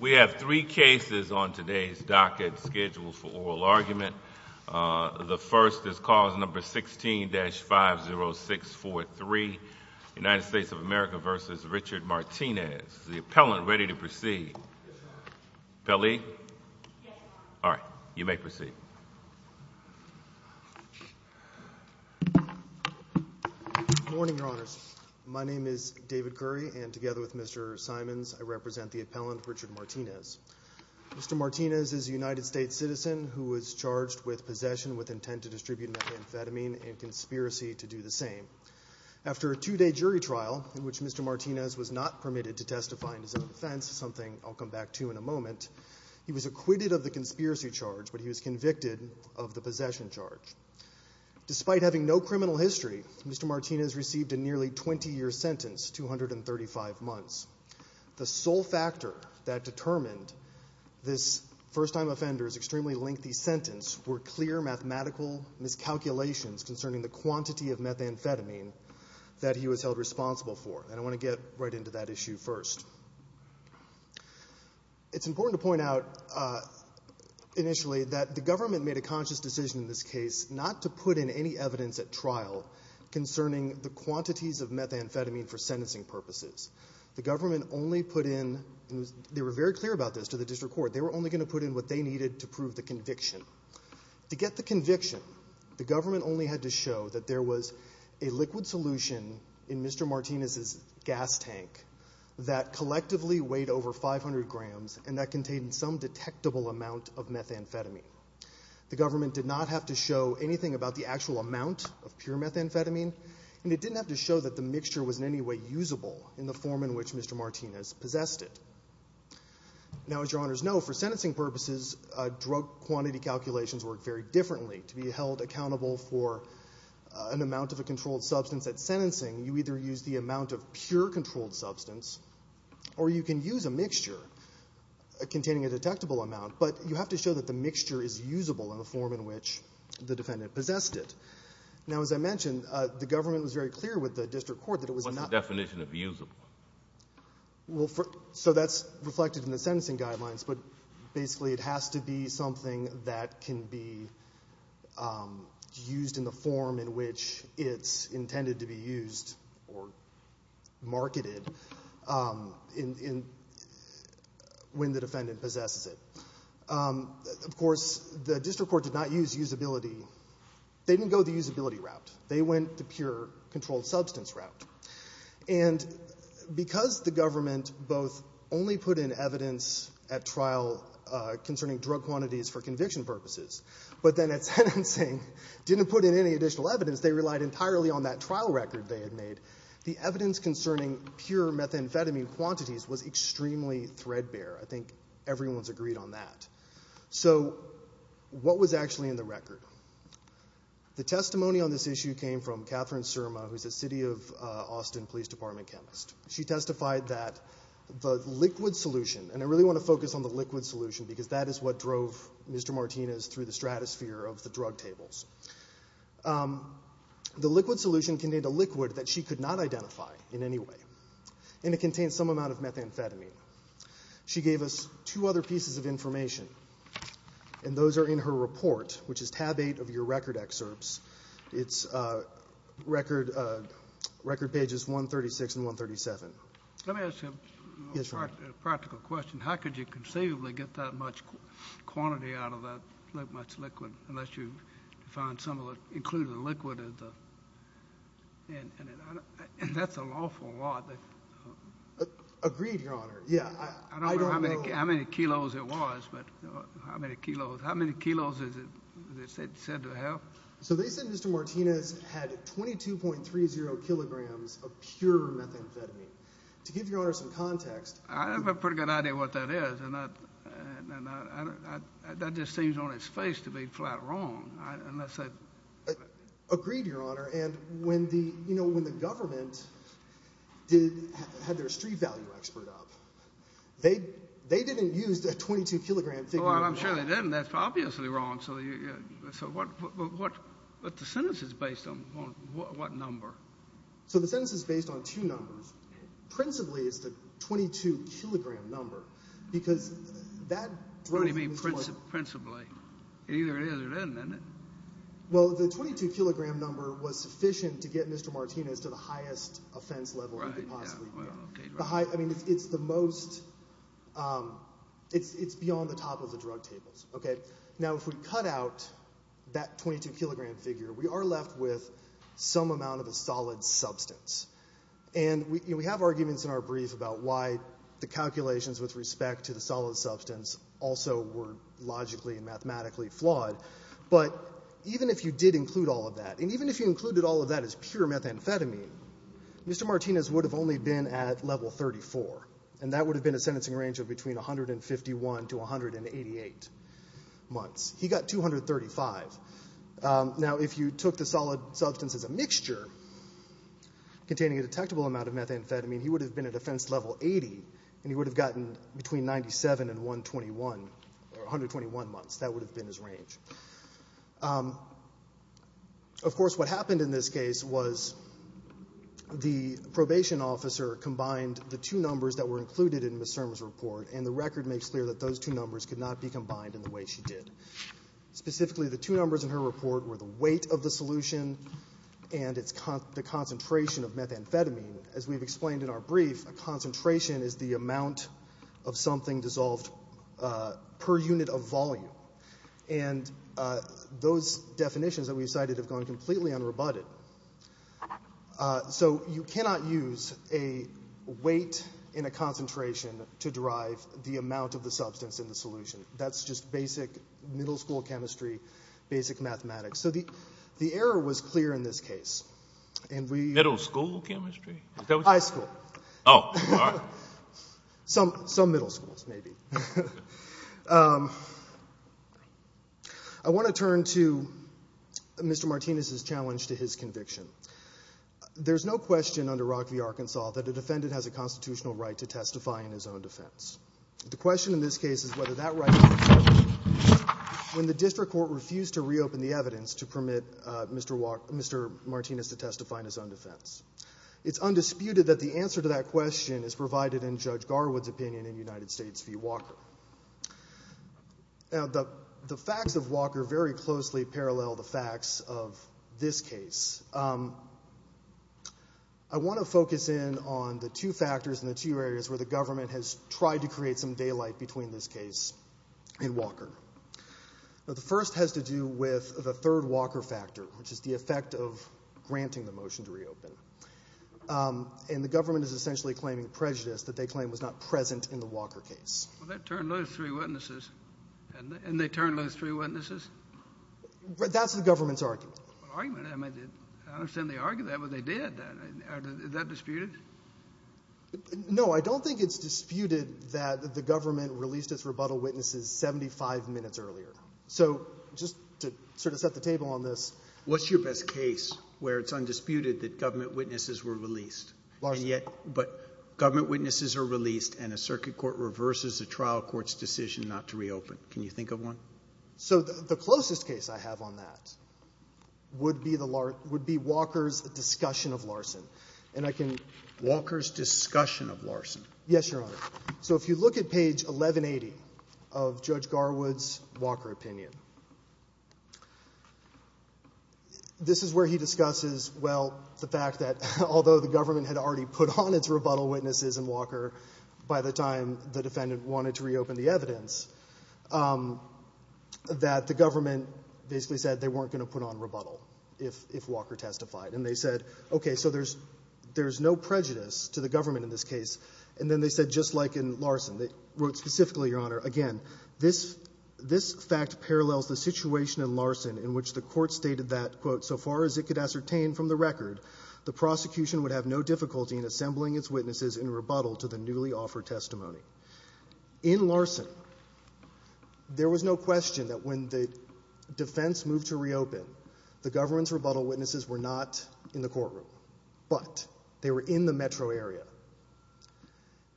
We have three cases on today's docket scheduled for oral argument. The first is cause number 16-50643, United States of America v. Richard Martinez. Is the appellant ready to proceed? Yes, Your Honor. Pelley? Yes, Your Honor. All right. You may proceed. Good morning, Your Honors. My name is David Curry, and together with Mr. Simons, I represent the appellant, Richard Martinez. Mr. Martinez is a United States citizen who was charged with possession with intent to distribute methamphetamine and conspiracy to do the same. After a two-day jury trial in which Mr. Martinez was not permitted to testify in his own defense, something I'll come back to in a moment, he was acquitted of the conspiracy charge, but he was convicted of the possession charge. Despite having no criminal history, Mr. Martinez received a nearly 20-year sentence, 235 months. The sole factor that determined this first-time offender's extremely lengthy sentence were clear mathematical miscalculations concerning the quantity of methamphetamine that he was held responsible for, and I want to get right to that issue first. It's important to point out initially that the government made a conscious decision in this case not to put in any evidence at trial concerning the quantities of methamphetamine for sentencing purposes. The government only put in, and they were very clear about this to the district court, they were only going to put in what they needed to prove the conviction. To get the conviction, the government only had to show that there was a liquid solution in Mr. Martinez's gas tank that collectively weighed over 500 grams and that contained some detectable amount of methamphetamine. The government did not have to show anything about the actual amount of pure methamphetamine, and it didn't have to show that the mixture was in any way usable in the form in which Mr. Martinez possessed it. Now, as your honors know, for sentencing purposes, drug quantity calculations work very differently to be held accountable for an amount of a controlled substance at sentencing. You either use the amount of pure controlled substance, or you can use a mixture containing a detectable amount, but you have to show that the mixture is usable in the form in which the defendant possessed it. Now, as I mentioned, the government was very clear with the district court that it was not... What's the definition of usable? Well, so that's reflected in the sentencing guidelines, but basically it has to be something that can be used in the form in which it's intended to be used or marketed when the defendant possesses it. Of course, the district court did not use usability. They didn't go the usability route. They went the pure controlled substance route. And because the government both only put in evidence at trial concerning drug quantities for conviction purposes, but then at sentencing didn't put in any additional evidence, they relied entirely on that trial record they had made. The evidence concerning pure methamphetamine quantities was extremely threadbare. I think everyone's agreed on that. So what was actually in the record? The testimony on this issue came from Catherine Surma, who's a city of Austin Police Department chemist. She testified that the liquid solution, and I really want to focus on the liquid solution because that is what drove Mr. Martinez through the stratosphere of the drug tables. The liquid solution contained a liquid that she could not identify in any way, and it contained some amount of methamphetamine. She gave us two other pieces of information, and those are in her report, which is tab eight of your record excerpts. It's record pages 136 and 137. Let me ask you a practical question. How could you conceivably get that much quantity out of that much liquid unless you find some of it included in the liquid? And that's an awful lot. Agreed, Your Honor. I don't know how many kilos it was, but how many kilos is it said to have? So they said Mr. Martinez had 22.30 kilograms of pure methamphetamine. To give Your Honor some context— I have a pretty good idea what that is, and that just seems on its face to be flat wrong. Agreed, Your Honor. And when the government had their street value expert up, they didn't use a 22-kilogram figure. I'm sure they didn't. That's obviously wrong. So what—the sentence is based on what number? So the sentence is based on two numbers. Principally, it's the 22-kilogram number because that drove— What do you mean principally? It either is or doesn't, doesn't it? Well, the 22-kilogram number was sufficient to get Mr. Martinez to the highest offense level he could possibly get. Right, yeah, well, okay. I mean, it's the most—it's beyond the top of the drug tables. Now, if we cut out that 22-kilogram figure, we are left with some amount of a solid substance. And we have arguments in our brief about why the calculations with respect to the solid substance also were logically and mathematically flawed. But even if you did include all of that, and even if you included all of that as pure methamphetamine, Mr. Martinez would have only been at level 34, and that would have been a sentencing range of between 151 to 188 months. He got 235. Now, if you took the solid substance as a mixture containing a detectable amount of methamphetamine, he would have been at offense level 80, and he would have gotten between 97 and 121, or 121 months. That would have been his range. Of course, what happened in this case was the probation officer combined the two numbers that were included in Ms. Serm's report, and the record makes clear that those two numbers could not be combined in the way she did. Specifically, the two numbers in her report were the weight of the solution and the concentration of methamphetamine. As we've explained in our brief, a concentration is the amount of something dissolved per unit of volume. And those definitions that we've cited have gone completely unrebutted. So you cannot use a weight and a concentration to derive the amount of the substance in the solution. That's just basic middle school chemistry, basic mathematics. So the error was clear in this case. Middle school chemistry? High school. Oh, all right. Some middle schools, maybe. I want to turn to Mr. Martinez's challenge to his conviction. There's no question under Rock v. Arkansas that a defendant has a constitutional right to testify in his own defense. The question in this case is whether that right exists when the district court refused to reopen the evidence to permit Mr. Martinez to testify in his own defense. It's undisputed that the answer to that question is provided in Judge Garwood's opinion in United States v. Walker. The facts of Walker very closely parallel the facts of this case. I want to focus in on the two factors and the two areas where the government has tried to create some daylight between this case and Walker. The first has to do with the third Walker factor, which is the effect of granting the motion to reopen. And the government is essentially claiming prejudice that they claim was not present in the Walker case. Well, that turned those three witnesses. And they turned those three witnesses? That's the government's argument. Argument? I understand they argued that, but they did. Is that disputed? No, I don't think it's disputed that the government released its rebuttal witnesses 75 minutes earlier. So just to sort of set the table on this. What's your best case where it's undisputed that government witnesses were released? But government witnesses are released and a circuit court reverses a trial court's decision not to reopen. Can you think of one? So the closest case I have on that would be Walker's discussion of Larson. Walker's discussion of Larson? Yes, Your Honor. So if you look at page 1180 of Judge Garwood's Walker opinion, this is where he discusses, well, the fact that although the government had already put on its rebuttal witnesses in Walker by the time the defendant wanted to reopen the evidence, that the government basically said they weren't going to put on rebuttal if Walker testified. And they said, okay, so there's no prejudice to the government in this case. And then they said, just like in Larson, they wrote specifically, Your Honor, again, this fact parallels the situation in Larson in which the court stated that, quote, so far as it could ascertain from the record, the prosecution would have no difficulty in assembling its witnesses in rebuttal to the newly offered testimony. In Larson, there was no question that when the defense moved to reopen, the government's rebuttal witnesses were not in the courtroom, but they were in the metro area.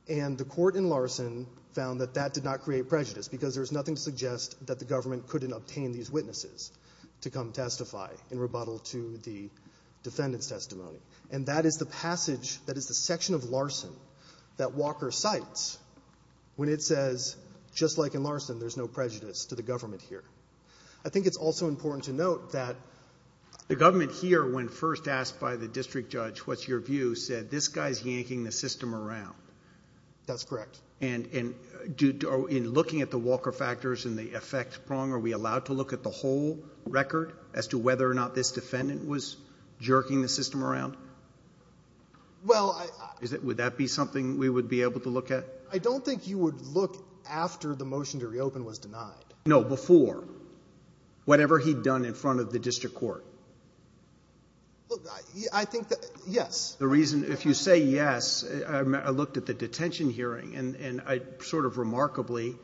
And the court in Larson found that that did not create prejudice because there's nothing to suggest that the government couldn't obtain these witnesses to come testify in rebuttal to the defendant's testimony. And that is the passage, that is the section of Larson that Walker cites when it says, just like in Larson, there's no prejudice to the government here. I think it's also important to note that the government here, when first asked by the district judge, what's your view, said this guy's yanking the system around. That's correct. And in looking at the Walker factors and the effect prong, are we allowed to look at the whole record as to whether or not this defendant was jerking the system around? Well, I – Would that be something we would be able to look at? I don't think you would look after the motion to reopen was denied. No, before. Whatever he'd done in front of the district court. Look, I think that, yes. The reason, if you say yes, I looked at the detention hearing, and sort of remarkably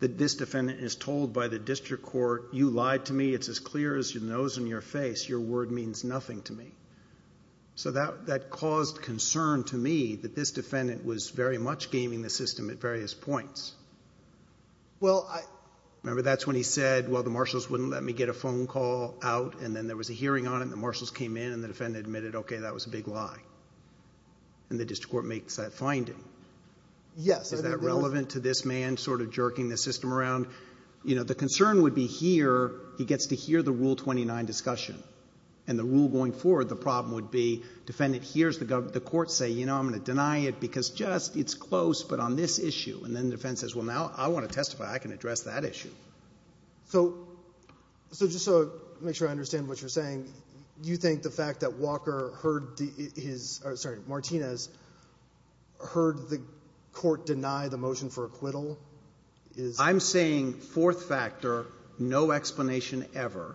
that this defendant is told by the district court, you lied to me, it's as clear as your nose and your face, your word means nothing to me. So that caused concern to me that this defendant was very much gaming the system at various points. Well, I... Remember that's when he said, well, the marshals wouldn't let me get a phone call out, and then there was a hearing on it and the marshals came in and the defendant admitted, okay, that was a big lie. And the district court makes that finding. Yes. Is that relevant to this man sort of jerking the system around? You know, the concern would be here, he gets to hear the Rule 29 discussion, and the rule going forward, the problem would be defendant hears the court say, you know, I'm going to deny it because just it's close, but on this issue. And then the defense says, well, now I want to testify. I can address that issue. So just to make sure I understand what you're saying, do you think the fact that Walker heard his – sorry, Martinez heard the court deny the motion for acquittal is... I'm saying fourth factor, no explanation ever.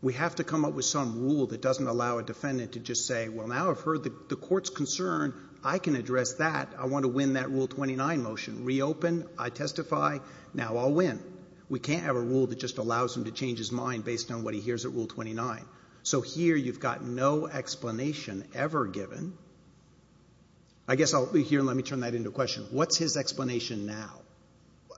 We have to come up with some rule that doesn't allow a defendant to just say, well, now I've heard the court's concern, I can address that. I want to win that Rule 29 motion. Reopen, I testify, now I'll win. We can't have a rule that just allows him to change his mind based on what he hears at Rule 29. So here you've got no explanation ever given. I guess I'll be here and let me turn that into a question. What's his explanation now?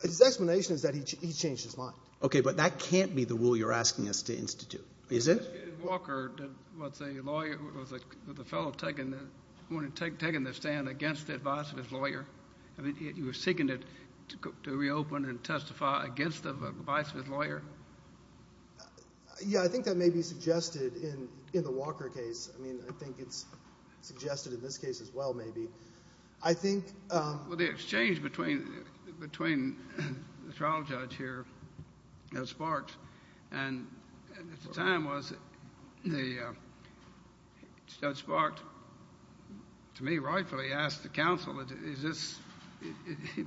His explanation is that he changed his mind. Okay, but that can't be the rule you're asking us to institute, is it? Walker was a fellow who had taken the stand against the advice of his lawyer. You were seeking to reopen and testify against the advice of his lawyer? Yeah, I think that may be suggested in the Walker case. I mean I think it's suggested in this case as well maybe. I think... Well, the exchange between the trial judge here and Sparks at the time was Judge Sparks, to me rightfully, asked the counsel, is this,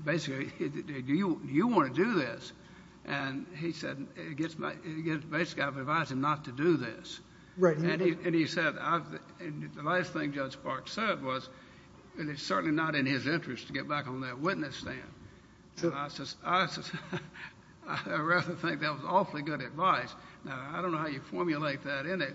basically, do you want to do this? And he said, basically, I've advised him not to do this. And he said, the last thing Judge Sparks said was, and it's certainly not in his interest to get back on that witness stand. I'd rather think that was awfully good advice. Now, I don't know how you formulate that in it.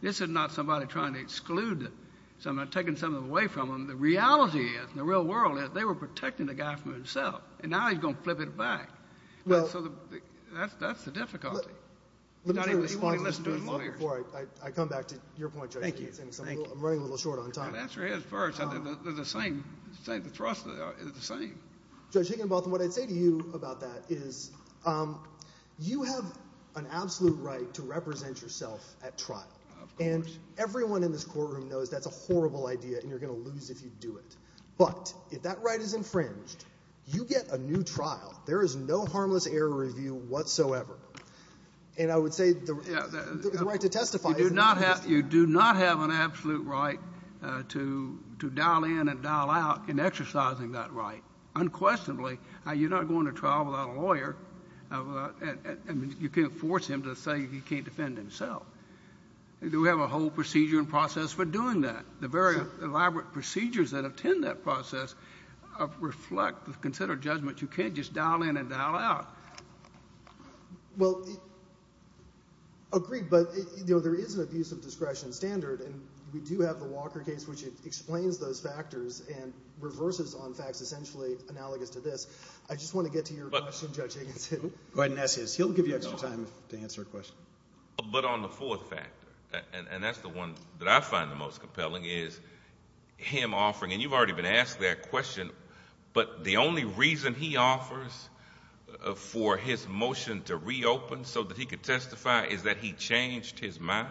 This is not somebody trying to exclude someone or taking someone away from them. The reality is, in the real world, is they were protecting the guy from himself, and now he's going to flip it back. So that's the difficulty. Let me respond to this before I come back to your point, Judge. Thank you. I'm running a little short on time. Answer his first. The thrust is the same. Judge Higginbotham, what I'd say to you about that is, you have an absolute right to represent yourself at trial. Of course. And everyone in this courtroom knows that's a horrible idea, and you're going to lose if you do it. But if that right is infringed, you get a new trial. There is no harmless error review whatsoever. And I would say the right to testify. You do not have an absolute right to dial in and dial out in exercising that right. Unquestionably, you're not going to trial without a lawyer. You can't force him to say he can't defend himself. We do have a whole procedure and process for doing that. The very elaborate procedures that attend that process reflect considered judgment. You can't just dial in and dial out. Well, agreed. But there is an abuse of discretion standard, and we do have the Walker case which explains those factors and reverses on facts essentially analogous to this. I just want to get to your question, Judge Higginbotham. Go ahead and ask his. He'll give you extra time to answer a question. But on the fourth factor, and that's the one that I find the most compelling, is him offering, and you've already been asked that question, but the only reason he offers for his motion to reopen so that he could testify is that he changed his mind?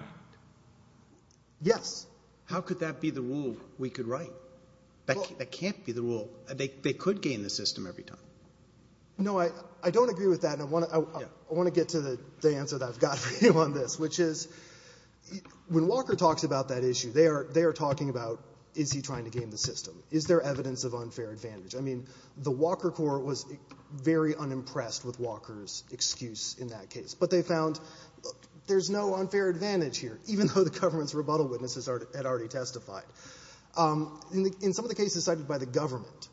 Yes. How could that be the rule we could write? That can't be the rule. They could gain the system every time. No, I don't agree with that. I want to get to the answer that I've got for you on this, which is when Walker talks about that issue, they are talking about, is he trying to gain the system? Is there evidence of unfair advantage? I mean, the Walker court was very unimpressed with Walker's excuse in that case, but they found there's no unfair advantage here, even though the government's rebuttal witnesses had already testified. In some of the cases cited by the government,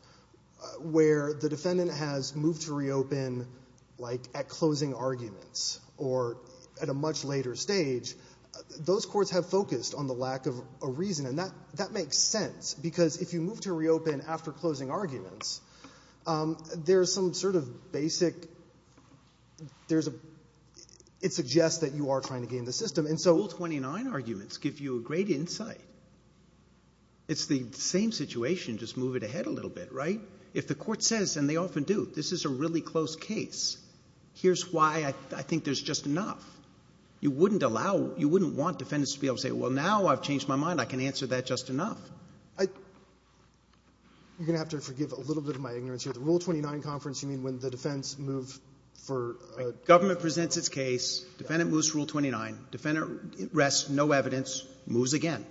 where the defendant has moved to reopen, like, at closing arguments or at a much later stage, those courts have focused on the lack of a reason, and that makes sense, because if you move to reopen after closing arguments, there's some sort of basic – it suggests that you are trying to gain the system. Rule 29 arguments give you a great insight. It's the same situation, just move it ahead a little bit, right? If the court says, and they often do, this is a really close case, here's why I think there's just enough. You wouldn't allow – you wouldn't want defendants to be able to say, well, now I've changed my mind. I can answer that just enough. You're going to have to forgive a little bit of my ignorance here. The Rule 29 conference, you mean when the defense moved for – government presents its case, defendant moves to Rule 29, defendant rests, no evidence, moves again.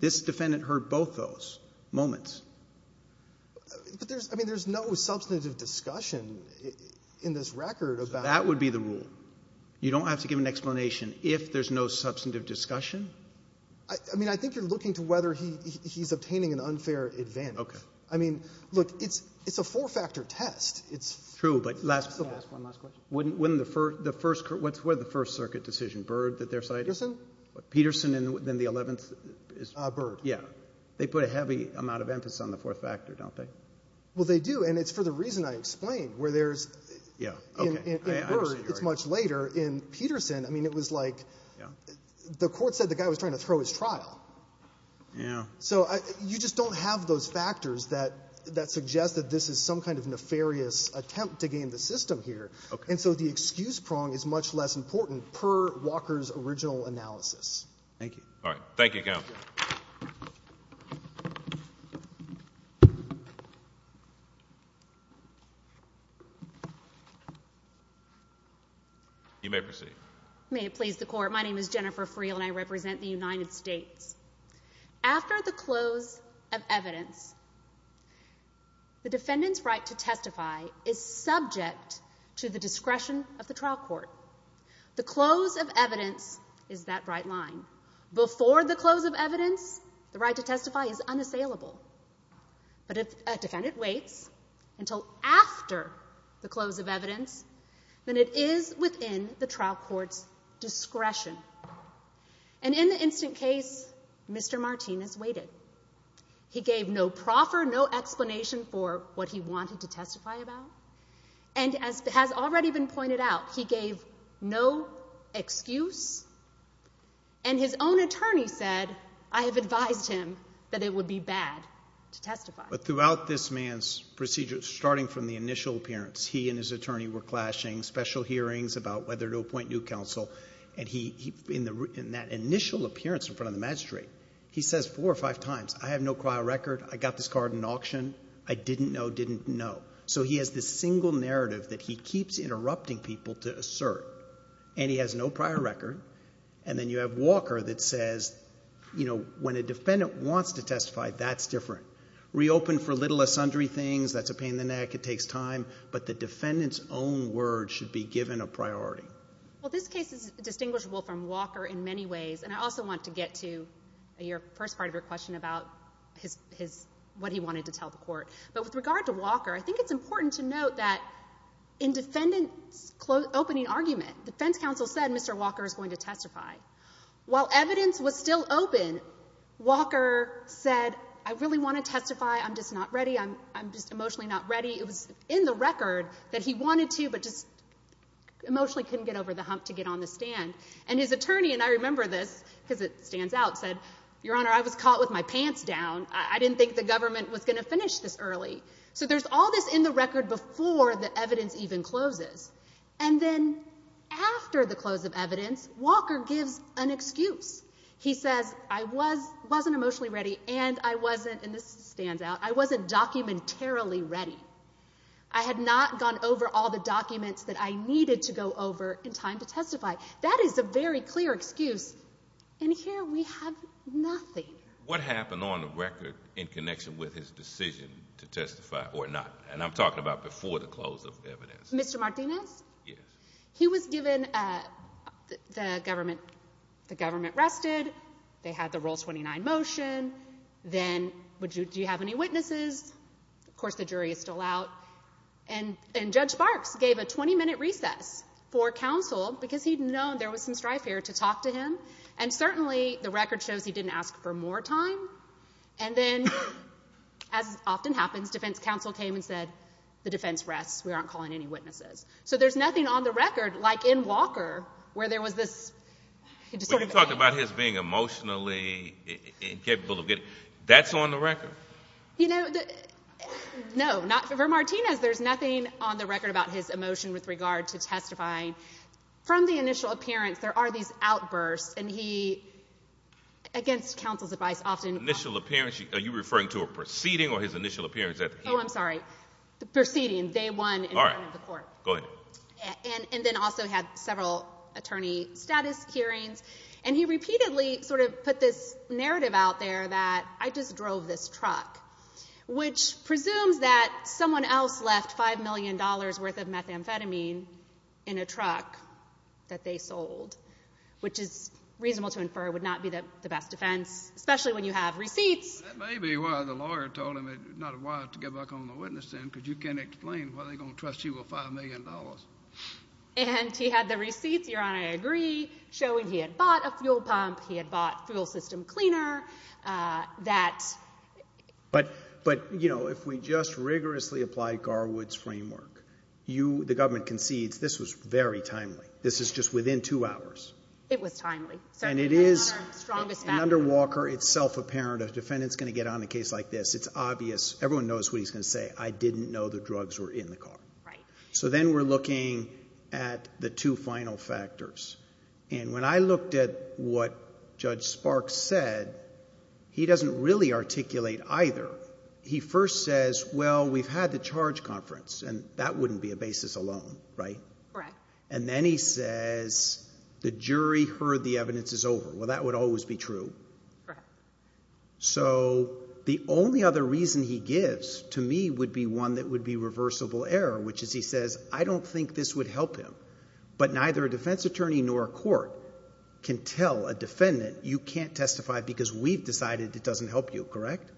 This defendant heard both those moments. But there's – I mean, there's no substantive discussion in this record about – That would be the rule. You don't have to give an explanation if there's no substantive discussion. I mean, I think you're looking to whether he's obtaining an unfair advantage. Okay. I mean, look, it's a four-factor test. It's – True, but last – Can I ask one last question? Wouldn't the first – what's the first circuit decision, Byrd that they're citing? Peterson. Peterson, and then the 11th is – Byrd. Yeah. They put a heavy amount of emphasis on the fourth factor, don't they? Well, they do, and it's for the reason I explained, where there's – Yeah, okay. In Byrd, it's much later. In Peterson, I mean, it was like the court said the guy was trying to throw his trial. Yeah. So you just don't have those factors that suggest that this is some kind of nefarious attempt to game the system here. Okay. And so the excuse prong is much less important per Walker's original analysis. Thank you. All right. Thank you, Counsel. Thank you. You may proceed. May it please the Court. My name is Jennifer Friel, and I represent the United States. After the close of evidence, the defendant's right to testify is subject to the discretion of the trial court. The close of evidence is that bright line. Before the close of evidence, the right to testify is unassailable. But if a defendant waits until after the close of evidence, then it is within the trial court's discretion. And in the instant case, Mr. Martinez waited. He gave no proffer, no explanation for what he wanted to testify about. And as has already been pointed out, he gave no excuse. And his own attorney said, I have advised him that it would be bad to testify. But throughout this man's procedure, starting from the initial appearance, he and his attorney were clashing, special hearings about whether to appoint new counsel. And in that initial appearance in front of the magistrate, he says four or five times, I have no prior record. I got this card at an auction. I didn't know, didn't know. So he has this single narrative that he keeps interrupting people to assert. And he has no prior record. And then you have Walker that says, you know, when a defendant wants to testify, that's different. Reopen for little or sundry things. That's a pain in the neck. It takes time. But the defendant's own words should be given a priority. Well, this case is distinguishable from Walker in many ways. And I also want to get to your first part of your question about what he wanted to tell the court. But with regard to Walker, I think it's important to note that in defendant's opening argument, defense counsel said Mr. Walker is going to testify. While evidence was still open, Walker said, I really want to testify. I'm just not ready. I'm just emotionally not ready. It was in the record that he wanted to but just emotionally couldn't get over the hump to get on the stand. And his attorney, and I remember this because it stands out, said, Your Honor, I was caught with my pants down. I didn't think the government was going to finish this early. So there's all this in the record before the evidence even closes. And then after the close of evidence, Walker gives an excuse. He says, I wasn't emotionally ready and I wasn't, and this stands out, I wasn't documentarily ready. I had not gone over all the documents that I needed to go over in time to testify. That is a very clear excuse. And here we have nothing. What happened on the record in connection with his decision to testify or not? And I'm talking about before the close of evidence. Mr. Martinez? Yes. He was given the government rested. They had the Rule 29 motion. Then do you have any witnesses? Of course the jury is still out. And Judge Barks gave a 20-minute recess for counsel because he'd known there was some strife here to talk to him. And certainly the record shows he didn't ask for more time. And then, as often happens, defense counsel came and said, The defense rests. We aren't calling any witnesses. So there's nothing on the record, like in Walker, where there was this sort of anger. But you're talking about his being emotionally incapable of getting. That's on the record? You know, no, not for Martinez. There's nothing on the record about his emotion with regard to testifying. From the initial appearance, there are these outbursts, and he, against counsel's advice, often. Initial appearance? Are you referring to a proceeding or his initial appearance at the hearing? Oh, I'm sorry. Proceeding, day one in front of the court. All right. Go ahead. And then also had several attorney status hearings. And he repeatedly sort of put this narrative out there that I just drove this truck, which presumes that someone else left $5 million worth of methamphetamine in a truck that they sold, which is reasonable to infer would not be the best defense, especially when you have receipts. That may be why the lawyer told him it's not wise to get back on the witness stand, because you can't explain why they're going to trust you with $5 million. And he had the receipts, Your Honor, I agree, showing he had bought a fuel pump, he had bought fuel system cleaner. But, you know, if we just rigorously apply Garwood's framework, the government concedes this was very timely. This is just within two hours. It was timely. And it is, under Walker, it's self-apparent. A defendant's going to get on a case like this. It's obvious. Everyone knows what he's going to say. I didn't know the drugs were in the car. Right. So then we're looking at the two final factors. And when I looked at what Judge Sparks said, he doesn't really articulate either. He first says, well, we've had the charge conference, and that wouldn't be a basis alone, right? Correct. And then he says, the jury heard the evidence is over. Well, that would always be true. Correct. So the only other reason he gives to me would be one that would be reversible error, which is he says, I don't think this would help him. But neither a defense attorney nor a court can tell a defendant, you can't testify because we've decided it doesn't help you, correct?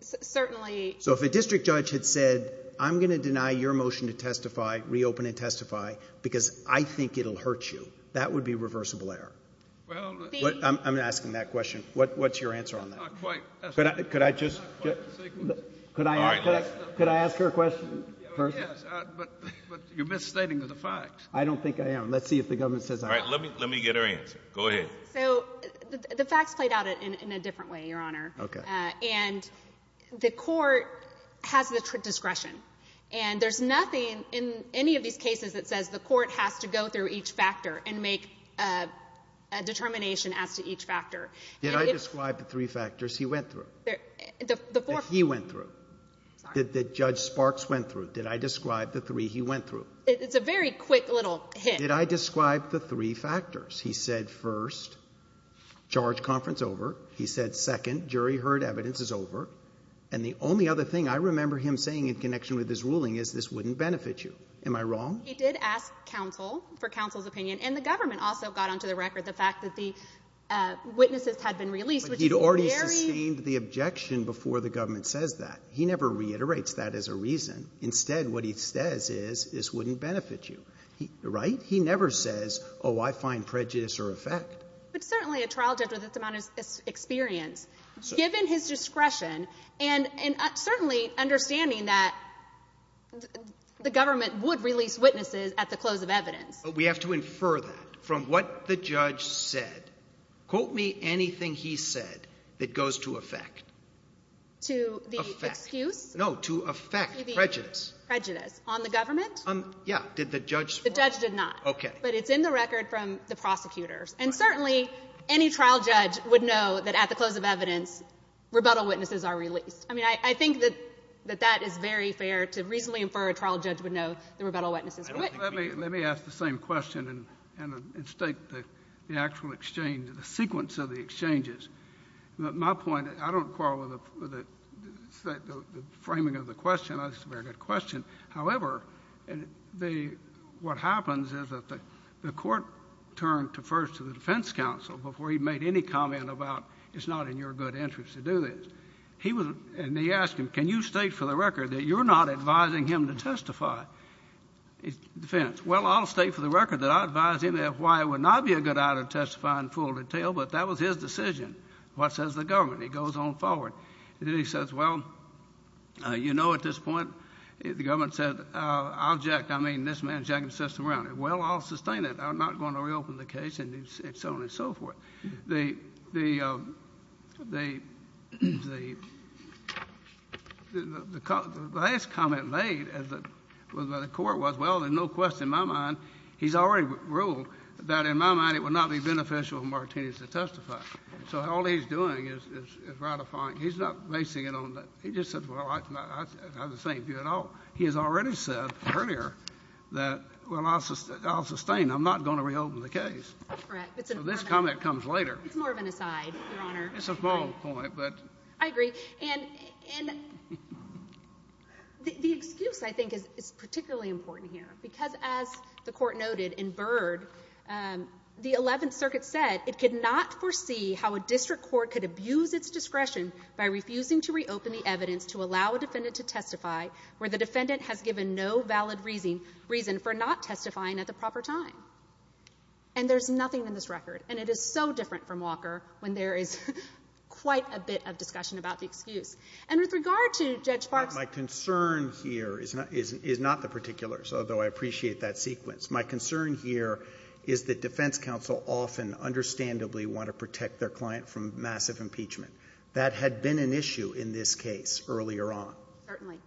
Certainly. So if a district judge had said, I'm going to deny your motion to testify, reopen and testify, because I think it will hurt you, that would be reversible error. I'm asking that question. What's your answer on that? Could I just ask her a question first? Yes, but you're misstating the facts. I don't think I am. Let's see if the government says I'm wrong. Let me get her answer. Go ahead. So the facts played out in a different way, Your Honor. Okay. And the court has the discretion. And there's nothing in any of these cases that says the court has to go through each factor and make a determination as to each factor. Did I describe the three factors he went through? The four. That he went through. Sorry. That Judge Sparks went through. Did I describe the three he went through? It's a very quick little hint. Did I describe the three factors? He said first, charge conference over. He said second, jury heard evidence is over. And the only other thing I remember him saying in connection with his ruling is this wouldn't benefit you. Am I wrong? He did ask counsel for counsel's opinion. And the government also got onto the record the fact that the witnesses had been released. But he'd already sustained the objection before the government says that. He never reiterates that as a reason. Instead, what he says is this wouldn't benefit you. Right? He never says, oh, I find prejudice or effect. But certainly a trial judge with this amount of experience, given his discretion and certainly understanding that the government would release witnesses at the close of evidence. We have to infer that from what the judge said. Quote me anything he said that goes to effect. To the excuse? No, to effect, prejudice. Prejudice. On the government? Yeah. Did the judge? The judge did not. Okay. But it's in the record from the prosecutors. And certainly any trial judge would know that at the close of evidence, rebuttal witnesses are released. I mean, I think that that is very fair to reasonably infer a trial judge would know the rebuttal witnesses are released. Let me ask the same question and state the actual exchange, the sequence of the exchanges. My point, I don't quarrel with the framing of the question. That's a very good question. However, what happens is that the court turned first to the defense counsel before he made any comment about it's not in your good interest to do this. And they asked him, can you state for the record that you're not advising him to testify? Defense, well, I'll state for the record that I advised him that why it would not be a good idea to testify in full detail, but that was his decision. What says the government? He goes on forward. He says, well, you know at this point the government said I'll jack, I mean this man's jacking the system around. Well, I'll sustain it. I'm not going to reopen the case and so on and so forth. The last comment made by the court was, well, there's no question in my mind, he's already ruled that in my mind it would not be beneficial for Martinez to testify. So all he's doing is ratifying. He's not basing it on that. He just said, well, I have the same view at all. He has already said earlier that, well, I'll sustain. I'm not going to reopen the case. That's correct. So this comment comes later. It's more of an aside, Your Honor. It's a small point, but. I agree. And the excuse, I think, is particularly important here because as the court noted in Byrd, the Eleventh Circuit said it could not foresee how a district court could abuse its discretion by refusing to reopen the evidence to allow a defendant to testify where the defendant has given no valid reason for not testifying at the proper time. And there's nothing in this record, and it is so different from Walker when there is quite a bit of discussion about the excuse. And with regard to Judge Barksley. My concern here is not the particulars, although I appreciate that sequence. My concern here is that defense counsel often understandably want to protect their client from massive impeachment. That had been an issue in this case earlier on. Certainly.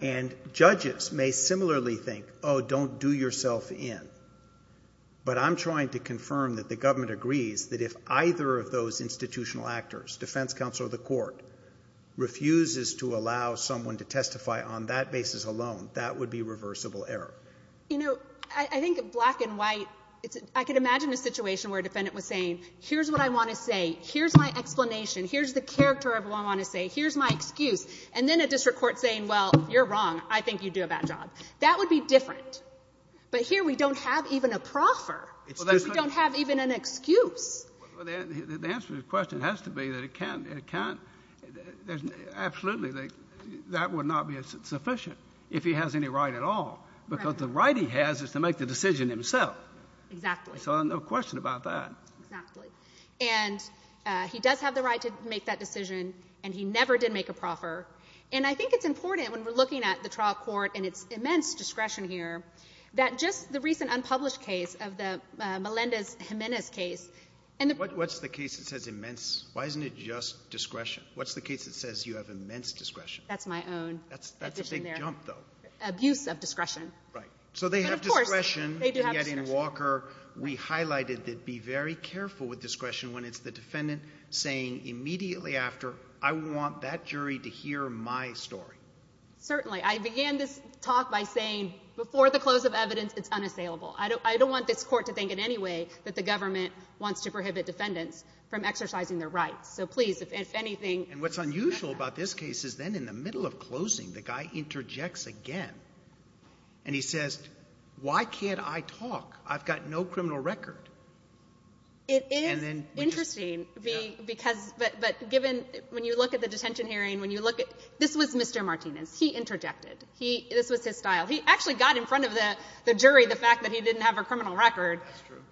And judges may similarly think, oh, don't do yourself in. But I'm trying to confirm that the government agrees that if either of those institutional actors, defense counsel or the court, refuses to allow someone to testify on that basis alone, that would be reversible error. You know, I think black and white, I could imagine a situation where a defendant was saying, here's what I want to say. Here's my explanation. Here's the character of what I want to say. Here's my excuse. And then a district court saying, well, you're wrong. I think you do a bad job. That would be different. But here we don't have even a proffer. We don't have even an excuse. Well, the answer to your question has to be that it can't, it can't, absolutely that would not be sufficient if he has any right at all. Because the right he has is to make the decision himself. Exactly. So no question about that. Exactly. And he does have the right to make that decision. And he never did make a proffer. And I think it's important when we're looking at the trial court and its immense discretion here, that just the recent unpublished case of the Melendez Jimenez case. What's the case that says immense? Why isn't it just discretion? What's the case that says you have immense discretion? That's my own. That's a big jump, though. Abuse of discretion. Right. So they have discretion. They do have discretion. And yet in Walker we highlighted that be very careful with discretion when it's the defendant saying immediately after, I want that jury to hear my story. Certainly. I began this talk by saying before the close of evidence, it's unassailable. I don't want this court to think in any way that the government wants to prohibit defendants from exercising their rights. So, please, if anything. And what's unusual about this case is then in the middle of closing, the guy interjects again. And he says, why can't I talk? I've got no criminal record. It is interesting. But given when you look at the detention hearing, when you look at this was Mr. Martinez. He interjected. This was his style. He actually got in front of the jury the fact that he didn't have a criminal record.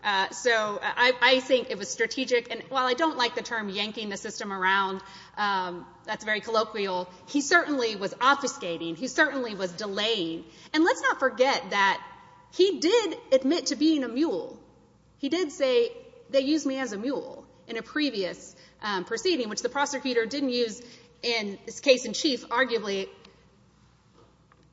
That's true. So I think it was strategic. And while I don't like the term yanking the system around, that's very colloquial, he certainly was obfuscating. He certainly was delaying. And let's not forget that he did admit to being a mule. He did say, they used me as a mule in a previous proceeding, which the prosecutor didn't use in this case in chief, arguably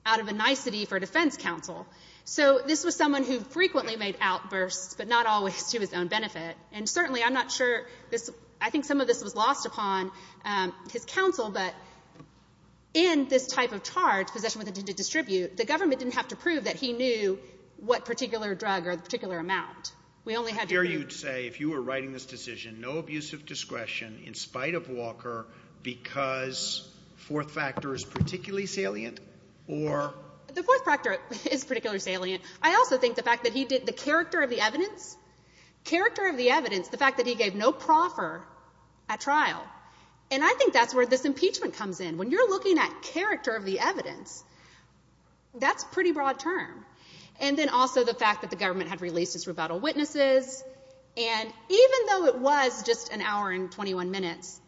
out of a nicety for defense counsel. So this was someone who frequently made outbursts, but not always to his own benefit. And certainly I'm not sure this, I think some of this was lost upon his counsel, but in this type of charge, possession with intent to distribute, the government didn't have to prove that he knew what particular drug or particular amount. We only had to prove. I dare you to say if you were writing this decision, no abuse of discretion in spite of Walker because fourth factor is particularly salient or? The fourth factor is particularly salient. I also think the fact that he did the character of the evidence. Character of the evidence, the fact that he gave no proffer at trial. And I think that's where this impeachment comes in. When you're looking at character of the evidence, that's pretty broad term. And then also the fact that the government had released its rebuttal witnesses. And even though it was just an hour and 21 minutes,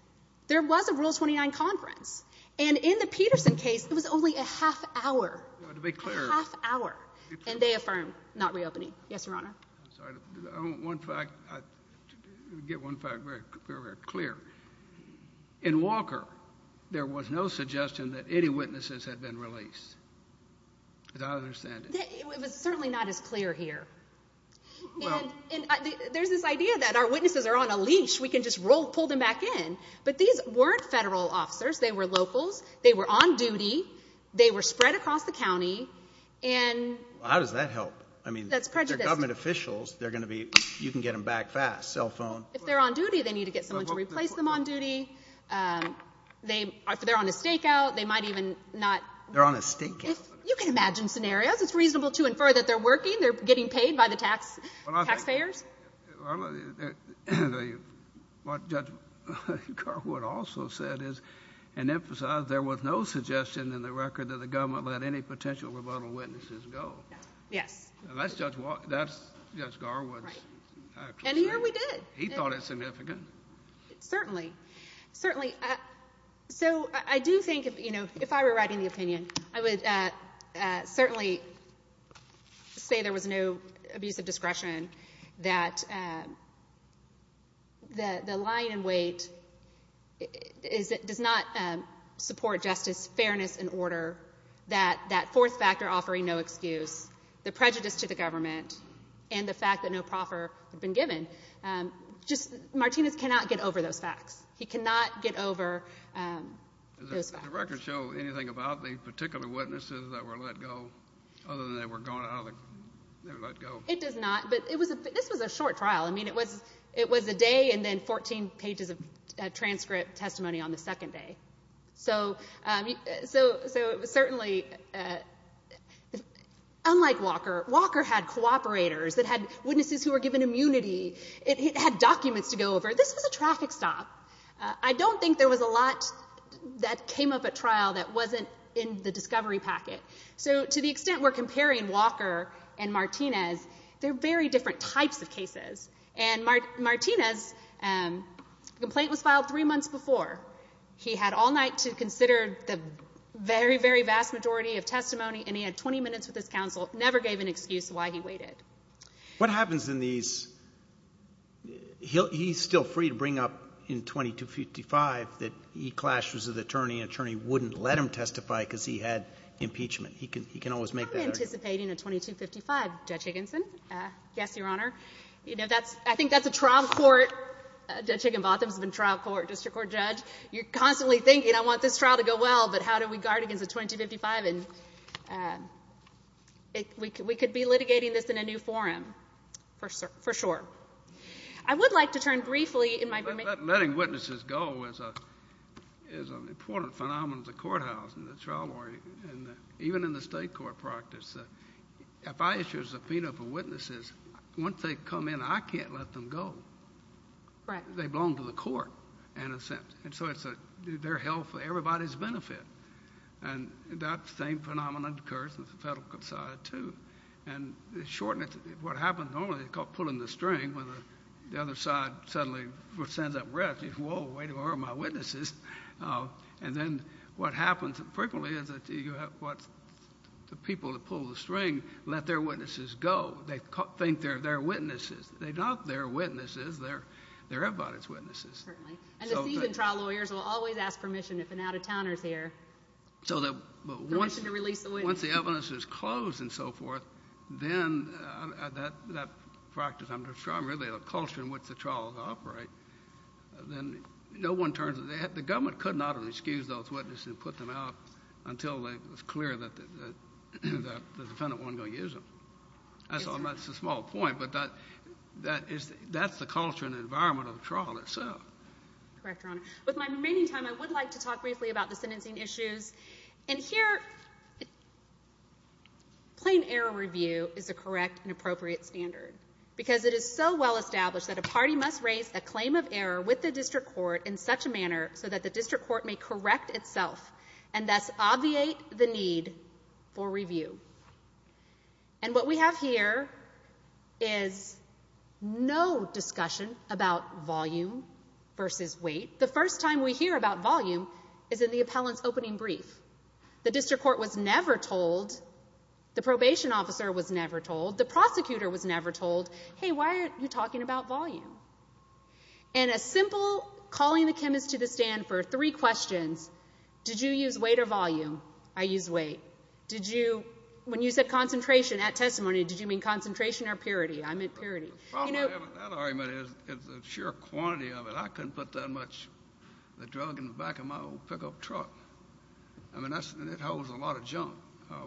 there was a Rule 29 conference. And in the Peterson case, it was only a half hour. A half hour. And they affirmed not reopening. Yes, Your Honor. I'm sorry. I want one fact. Get one fact very, very clear. In Walker, there was no suggestion that any witnesses had been released. As I understand it. It was certainly not as clear here. And there's this idea that our witnesses are on a leash. We can just pull them back in. But these weren't federal officers. They were locals. They were on duty. They were spread across the county. How does that help? That's prejudiced. If they're government officials, you can get them back fast. Cell phone. If they're on duty, they need to get someone to replace them on duty. If they're on a stakeout, they might even not. They're on a stakeout. You can imagine scenarios. It's reasonable to infer that they're working. They're getting paid by the taxpayers. What Judge Carwood also said is and emphasized, there was no suggestion in the record that the government let any potential rebuttal witnesses go. Yes. That's Judge Carwood. And here we did. He thought it significant. Certainly. Certainly. So I do think, you know, if I were writing the opinion, I would certainly say there was no abuse of discretion. That the line in wait does not support justice, fairness, and order. That fourth factor offering no excuse. The prejudice to the government. And the fact that no proffer had been given. Just Martinez cannot get over those facts. He cannot get over those facts. Does the record show anything about the particular witnesses that were let go? Other than they were let go. It does not. But this was a short trial. I mean, it was a day and then 14 pages of transcript testimony on the second day. So certainly, unlike Walker, Walker had cooperators. It had witnesses who were given immunity. It had documents to go over. This was a traffic stop. I don't think there was a lot that came up at trial that wasn't in the discovery packet. So to the extent we're comparing Walker and Martinez, they're very different types of cases. And Martinez's complaint was filed three months before. He had all night to consider the very, very vast majority of testimony. And he had 20 minutes with his counsel. Never gave an excuse why he waited. What happens in these? He's still free to bring up in 2255 that he clashed with an attorney and an attorney wouldn't let him testify because he had impeachment. He can always make that argument. I'm anticipating a 2255, Judge Higginson. Yes, Your Honor. You know, I think that's a trial court. Judge Higginbotham's been trial court, district court judge. You're constantly thinking, I want this trial to go well, but how do we guard against a 2255? And we could be litigating this in a new forum, for sure. I would like to turn briefly in my brief. Letting witnesses go is an important phenomenon at the courthouse in the trial world, and even in the state court practice. If I issue a subpoena for witnesses, once they come in, I can't let them go. Right. They belong to the court, in a sense. And so it's their health, everybody's benefit. And that same phenomenon occurs with the federal side, too. And the shortness, what happens normally is called pulling the string, when the other side suddenly sends up rest. Whoa, way to harm my witnesses. And then what happens frequently is that the people that pull the string let their witnesses go. They think they're their witnesses. They're not their witnesses. They're everybody's witnesses. Certainly. And the seasoned trial lawyers will always ask permission if an out-of-towner is here. Permission to release the witness. Once the evidence is closed and so forth, then that practice, I'm really a culture in which the trials operate, then no one turns a head. The government could not have excused those witnesses and put them out until it was clear that the defendant wasn't going to use them. That's a small point, but that's the culture and environment of the trial itself. Correct, Your Honor. With my remaining time, I would like to talk briefly about the sentencing issues. And here, plain error review is a correct and appropriate standard because it is so well established that a party must raise a claim of error with the district court in such a manner so that the district court may correct itself and thus obviate the need for review. And what we have here is no discussion about volume versus weight. The first time we hear about volume is in the appellant's opening brief. The district court was never told. The probation officer was never told. The prosecutor was never told, hey, why are you talking about volume? And a simple calling the chemist to the stand for three questions, did you use weight or volume? I used weight. When you said concentration at testimony, did you mean concentration or purity? I meant purity. The problem with that argument is the sheer quantity of it. I couldn't put that much of the drug in the back of my old pickup truck. I mean, it holds a lot of junk.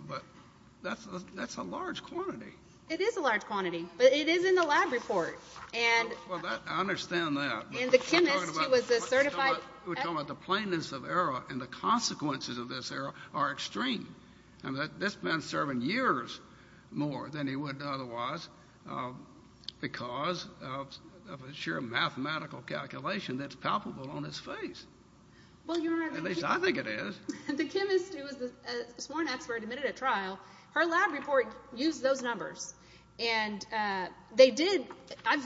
But that's a large quantity. It is a large quantity, but it is in the lab report. I understand that. And the chemist, he was a certified. We're talking about the plainness of error and the consequences of this error are extreme. This man's serving years more than he would otherwise because of a sheer mathematical calculation that's palpable on his face. At least I think it is. The chemist who was the sworn expert admitted at trial, her lab report used those numbers. And they did.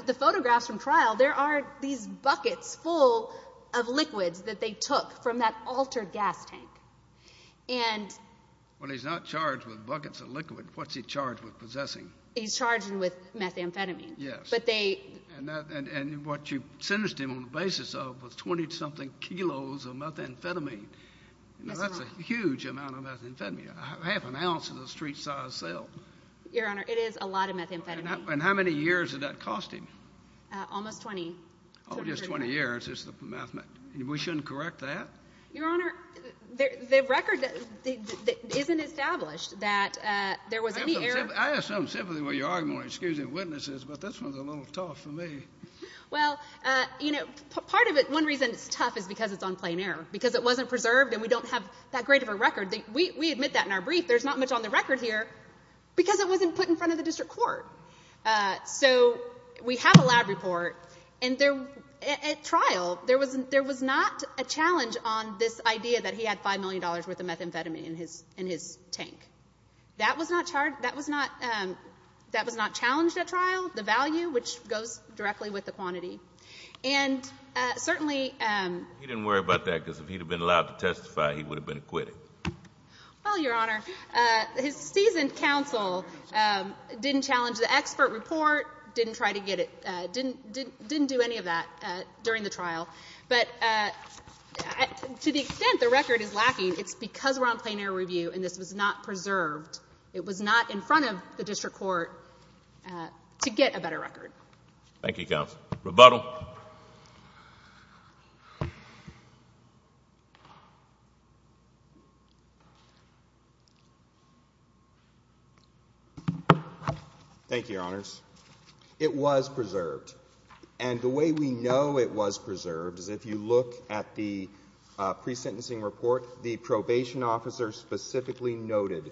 The photographs from trial, there are these buckets full of liquids that they took from that altered gas tank. Well, he's not charged with buckets of liquid. What's he charged with possessing? He's charged with methamphetamine. Yes. And what you sentenced him on the basis of was 20-something kilos of methamphetamine. That's a huge amount of methamphetamine, half an ounce of a street-sized cell. Your Honor, it is a lot of methamphetamine. And how many years did that cost him? Almost 20. Oh, just 20 years is the math. We shouldn't correct that? Your Honor, the record isn't established that there was any error. I have some sympathy with your argument on excusing witnesses, but this one's a little tough for me. Well, you know, part of it, one reason it's tough is because it's on plain error, because it wasn't preserved and we don't have that great of a record. We admit that in our brief. There's not much on the record here because it wasn't put in front of the district court. So we have a lab report. And at trial, there was not a challenge on this idea that he had $5 million worth of methamphetamine in his tank. That was not challenged at trial, the value, which goes directly with the quantity. And certainly he didn't worry about that because if he had been allowed to testify, he would have been acquitted. Well, Your Honor, his seasoned counsel didn't challenge the expert report, didn't try to get it, didn't do any of that during the trial. But to the extent the record is lacking, it's because we're on plain error review and this was not preserved, it was not in front of the district court to get a better record. Thank you, counsel. Rebuttal. Thank you, Your Honors. It was preserved. And the way we know it was preserved is if you look at the pre-sentencing report, the probation officer specifically noted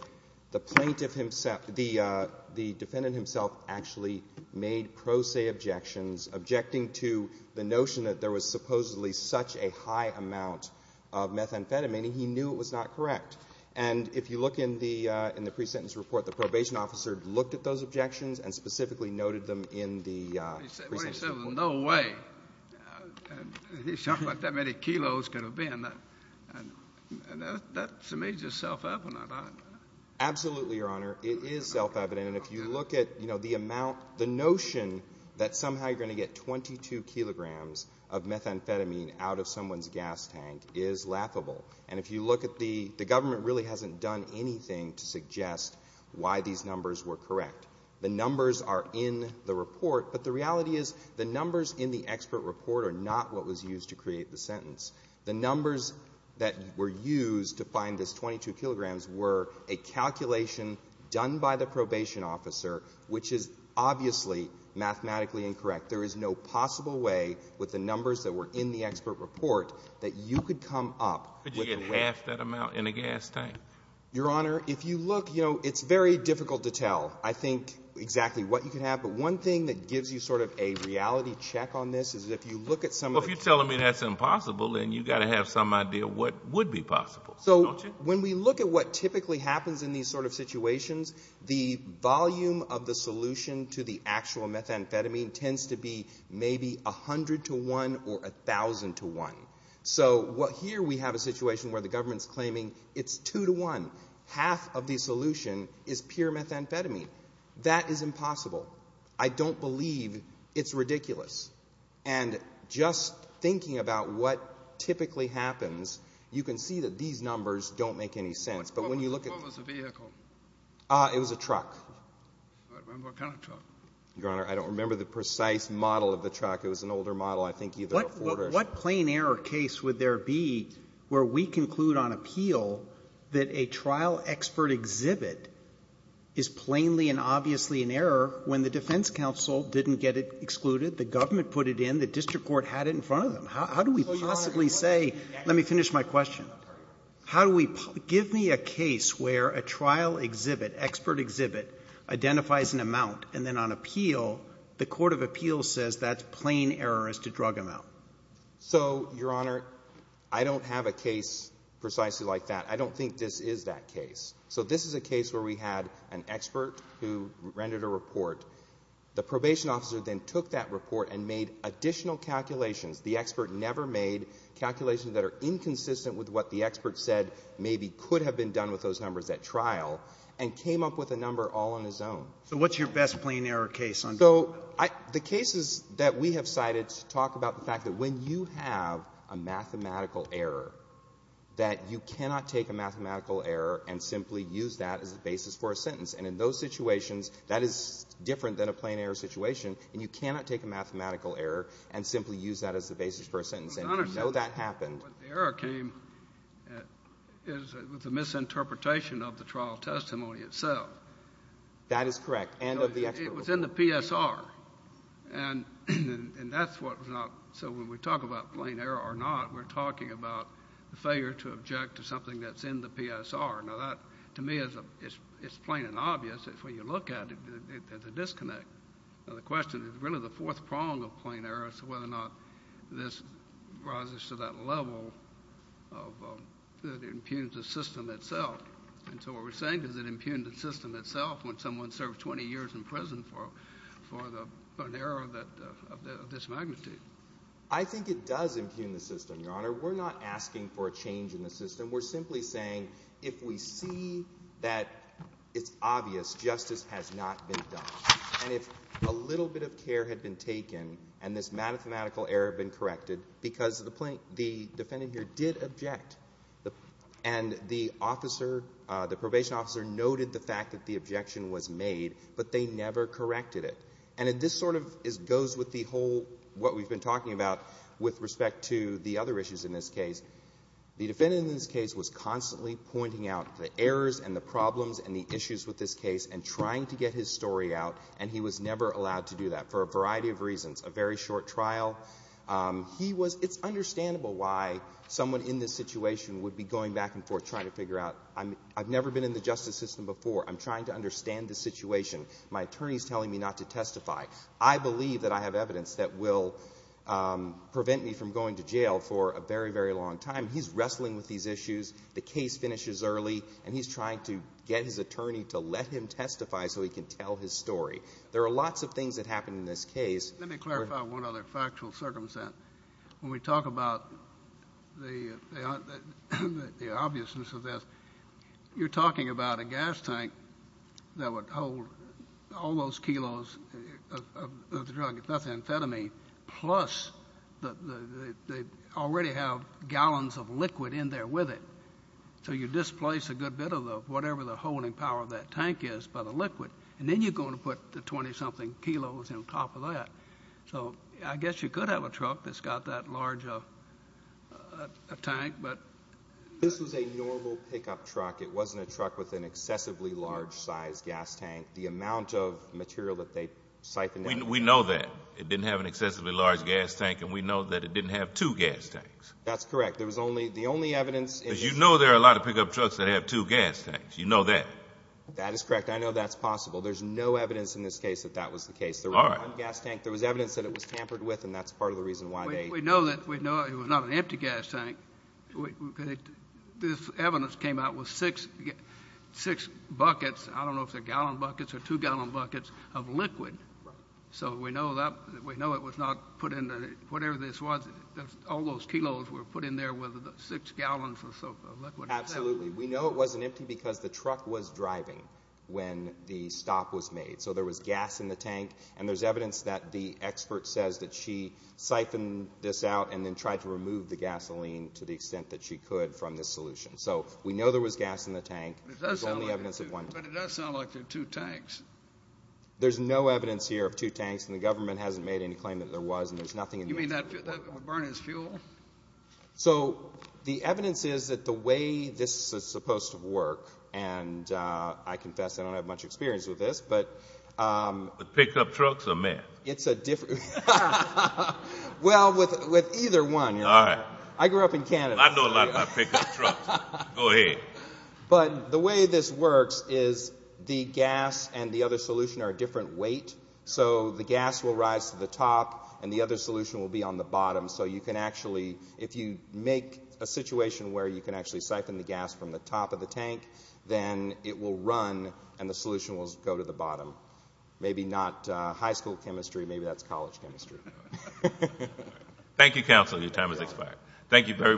the defendant himself actually made pro se objections, objecting to the notion that there was supposedly such a high amount of methamphetamine. He knew it was not correct. And if you look in the pre-sentence report, the probation officer looked at those objections and specifically noted them in the pre-sentence report. When he said there was no way something like that many kilos could have been, that to me is just self-evident. Absolutely, Your Honor. It is self-evident. And if you look at the amount, the notion that somehow you're going to get 22 kilograms of methamphetamine out of someone's gas tank is laughable. And if you look at the government really hasn't done anything to suggest why these numbers were correct. The numbers are in the report. But the reality is the numbers in the expert report are not what was used to create the sentence. The numbers that were used to find this 22 kilograms were a calculation done by the probation officer, which is obviously mathematically incorrect. There is no possible way with the numbers that were in the expert report that you could come up with the way. Could you get half that amount in a gas tank? Your Honor, if you look, you know, it's very difficult to tell. I think exactly what you could have. But one thing that gives you sort of a reality check on this is if you look at some of the Well, if you're telling me that's impossible, then you've got to have some idea what would be possible, don't you? So when we look at what typically happens in these sort of situations, the volume of the solution to the actual methamphetamine tends to be maybe 100 to 1 or 1,000 to 1. So here we have a situation where the government's claiming it's 2 to 1. Half of the solution is pure methamphetamine. That is impossible. I don't believe it's ridiculous. And just thinking about what typically happens, you can see that these numbers don't make any sense. But when you look at What was the vehicle? It was a truck. I don't remember what kind of truck. Your Honor, I don't remember the precise model of the truck. It was an older model, I think either a Ford or a where we conclude on appeal that a trial expert exhibit is plainly and obviously an error when the defense counsel didn't get it excluded, the government put it in, the district court had it in front of them. How do we possibly say Let me finish my question. Give me a case where a trial exhibit, expert exhibit, identifies an amount, and then on appeal, the court of appeals says that's plain error as to drug amount. So, Your Honor, I don't have a case precisely like that. I don't think this is that case. So this is a case where we had an expert who rendered a report. The probation officer then took that report and made additional calculations. The expert never made calculations that are inconsistent with what the expert said maybe could have been done with those numbers at trial, and came up with a number all on his own. So what's your best plain error case? So the cases that we have cited talk about the fact that when you have a mathematical error, that you cannot take a mathematical error and simply use that as the basis for a sentence. And in those situations, that is different than a plain error situation, and you cannot take a mathematical error and simply use that as the basis for a sentence. And you know that happened. But, Your Honor, the error came with a misinterpretation of the trial testimony itself. That is correct, and of the expert report. It was in the PSR, and that's what was not. So when we talk about plain error or not, we're talking about the failure to object to something that's in the PSR. Now that, to me, is plain and obvious. When you look at it, there's a disconnect. Now the question is really the fourth prong of plain error is whether or not this rises to that level that impugns the system itself. And so what we're saying is it impugned the system itself when someone served 20 years in prison for an error of this magnitude. I think it does impugn the system, Your Honor. We're not asking for a change in the system. We're simply saying if we see that it's obvious, justice has not been done. And if a little bit of care had been taken and this mathematical error had been corrected because the defendant here did object and the officer, the probation officer noted the fact that the objection was made, but they never corrected it. And this sort of goes with the whole what we've been talking about with respect to the other issues in this case. The defendant in this case was constantly pointing out the errors and the problems and the issues with this case and trying to get his story out, and he was never allowed to do that for a variety of reasons. A very short trial. It's understandable why someone in this situation would be going back and forth trying to figure out, I've never been in the justice system before. I'm trying to understand the situation. My attorney's telling me not to testify. I believe that I have evidence that will prevent me from going to jail for a very, very long time. He's wrestling with these issues. The case finishes early, and he's trying to get his attorney to let him testify so he can tell his story. There are lots of things that happen in this case. Let me clarify one other factual circumstance. When we talk about the obviousness of this, you're talking about a gas tank that would hold all those kilos of the drug, if not the amphetamine, plus they already have gallons of liquid in there with it. So you displace a good bit of whatever the holding power of that tank is by the liquid, and then you're going to put the 20-something kilos on top of that. So I guess you could have a truck that's got that large a tank, but... This was a normal pickup truck. It wasn't a truck with an excessively large size gas tank. The amount of material that they siphoned out... We know that. It didn't have an excessively large gas tank, and we know that it didn't have two gas tanks. That's correct. The only evidence is... You know there are a lot of pickup trucks that have two gas tanks. You know that. That is correct. I know that's possible. There's no evidence in this case that that was the case. There was one gas tank. There was evidence that it was tampered with, and that's part of the reason why they... We know it was not an empty gas tank. This evidence came out with six buckets. I don't know if they're gallon buckets or two-gallon buckets of liquid. So we know it was not put in... Whatever this was, all those kilos were put in there with six gallons of liquid. Absolutely. We know it wasn't empty because the truck was driving when the stop was made, so there was gas in the tank, and there's evidence that the expert says that she siphoned this out and then tried to remove the gasoline to the extent that she could from this solution. So we know there was gas in the tank. There's only evidence of one. But it does sound like there are two tanks. There's no evidence here of two tanks, and the government hasn't made any claim that there was, and there's nothing... You mean that would burn as fuel? So the evidence is that the way this is supposed to work, and I confess I don't have much experience with this... With pickup trucks or man? It's a different... Well, with either one. All right. I grew up in Canada. I know a lot about pickup trucks. Go ahead. But the way this works is the gas and the other solution are a different weight, so the gas will rise to the top and the other solution will be on the bottom, so you can actually... If you make a situation where you can actually siphon the gas from the top of the tank, then it will run and the solution will go to the bottom. Maybe not high school chemistry. Maybe that's college chemistry. Thank you, counsel. Your time has expired. Thank you very much.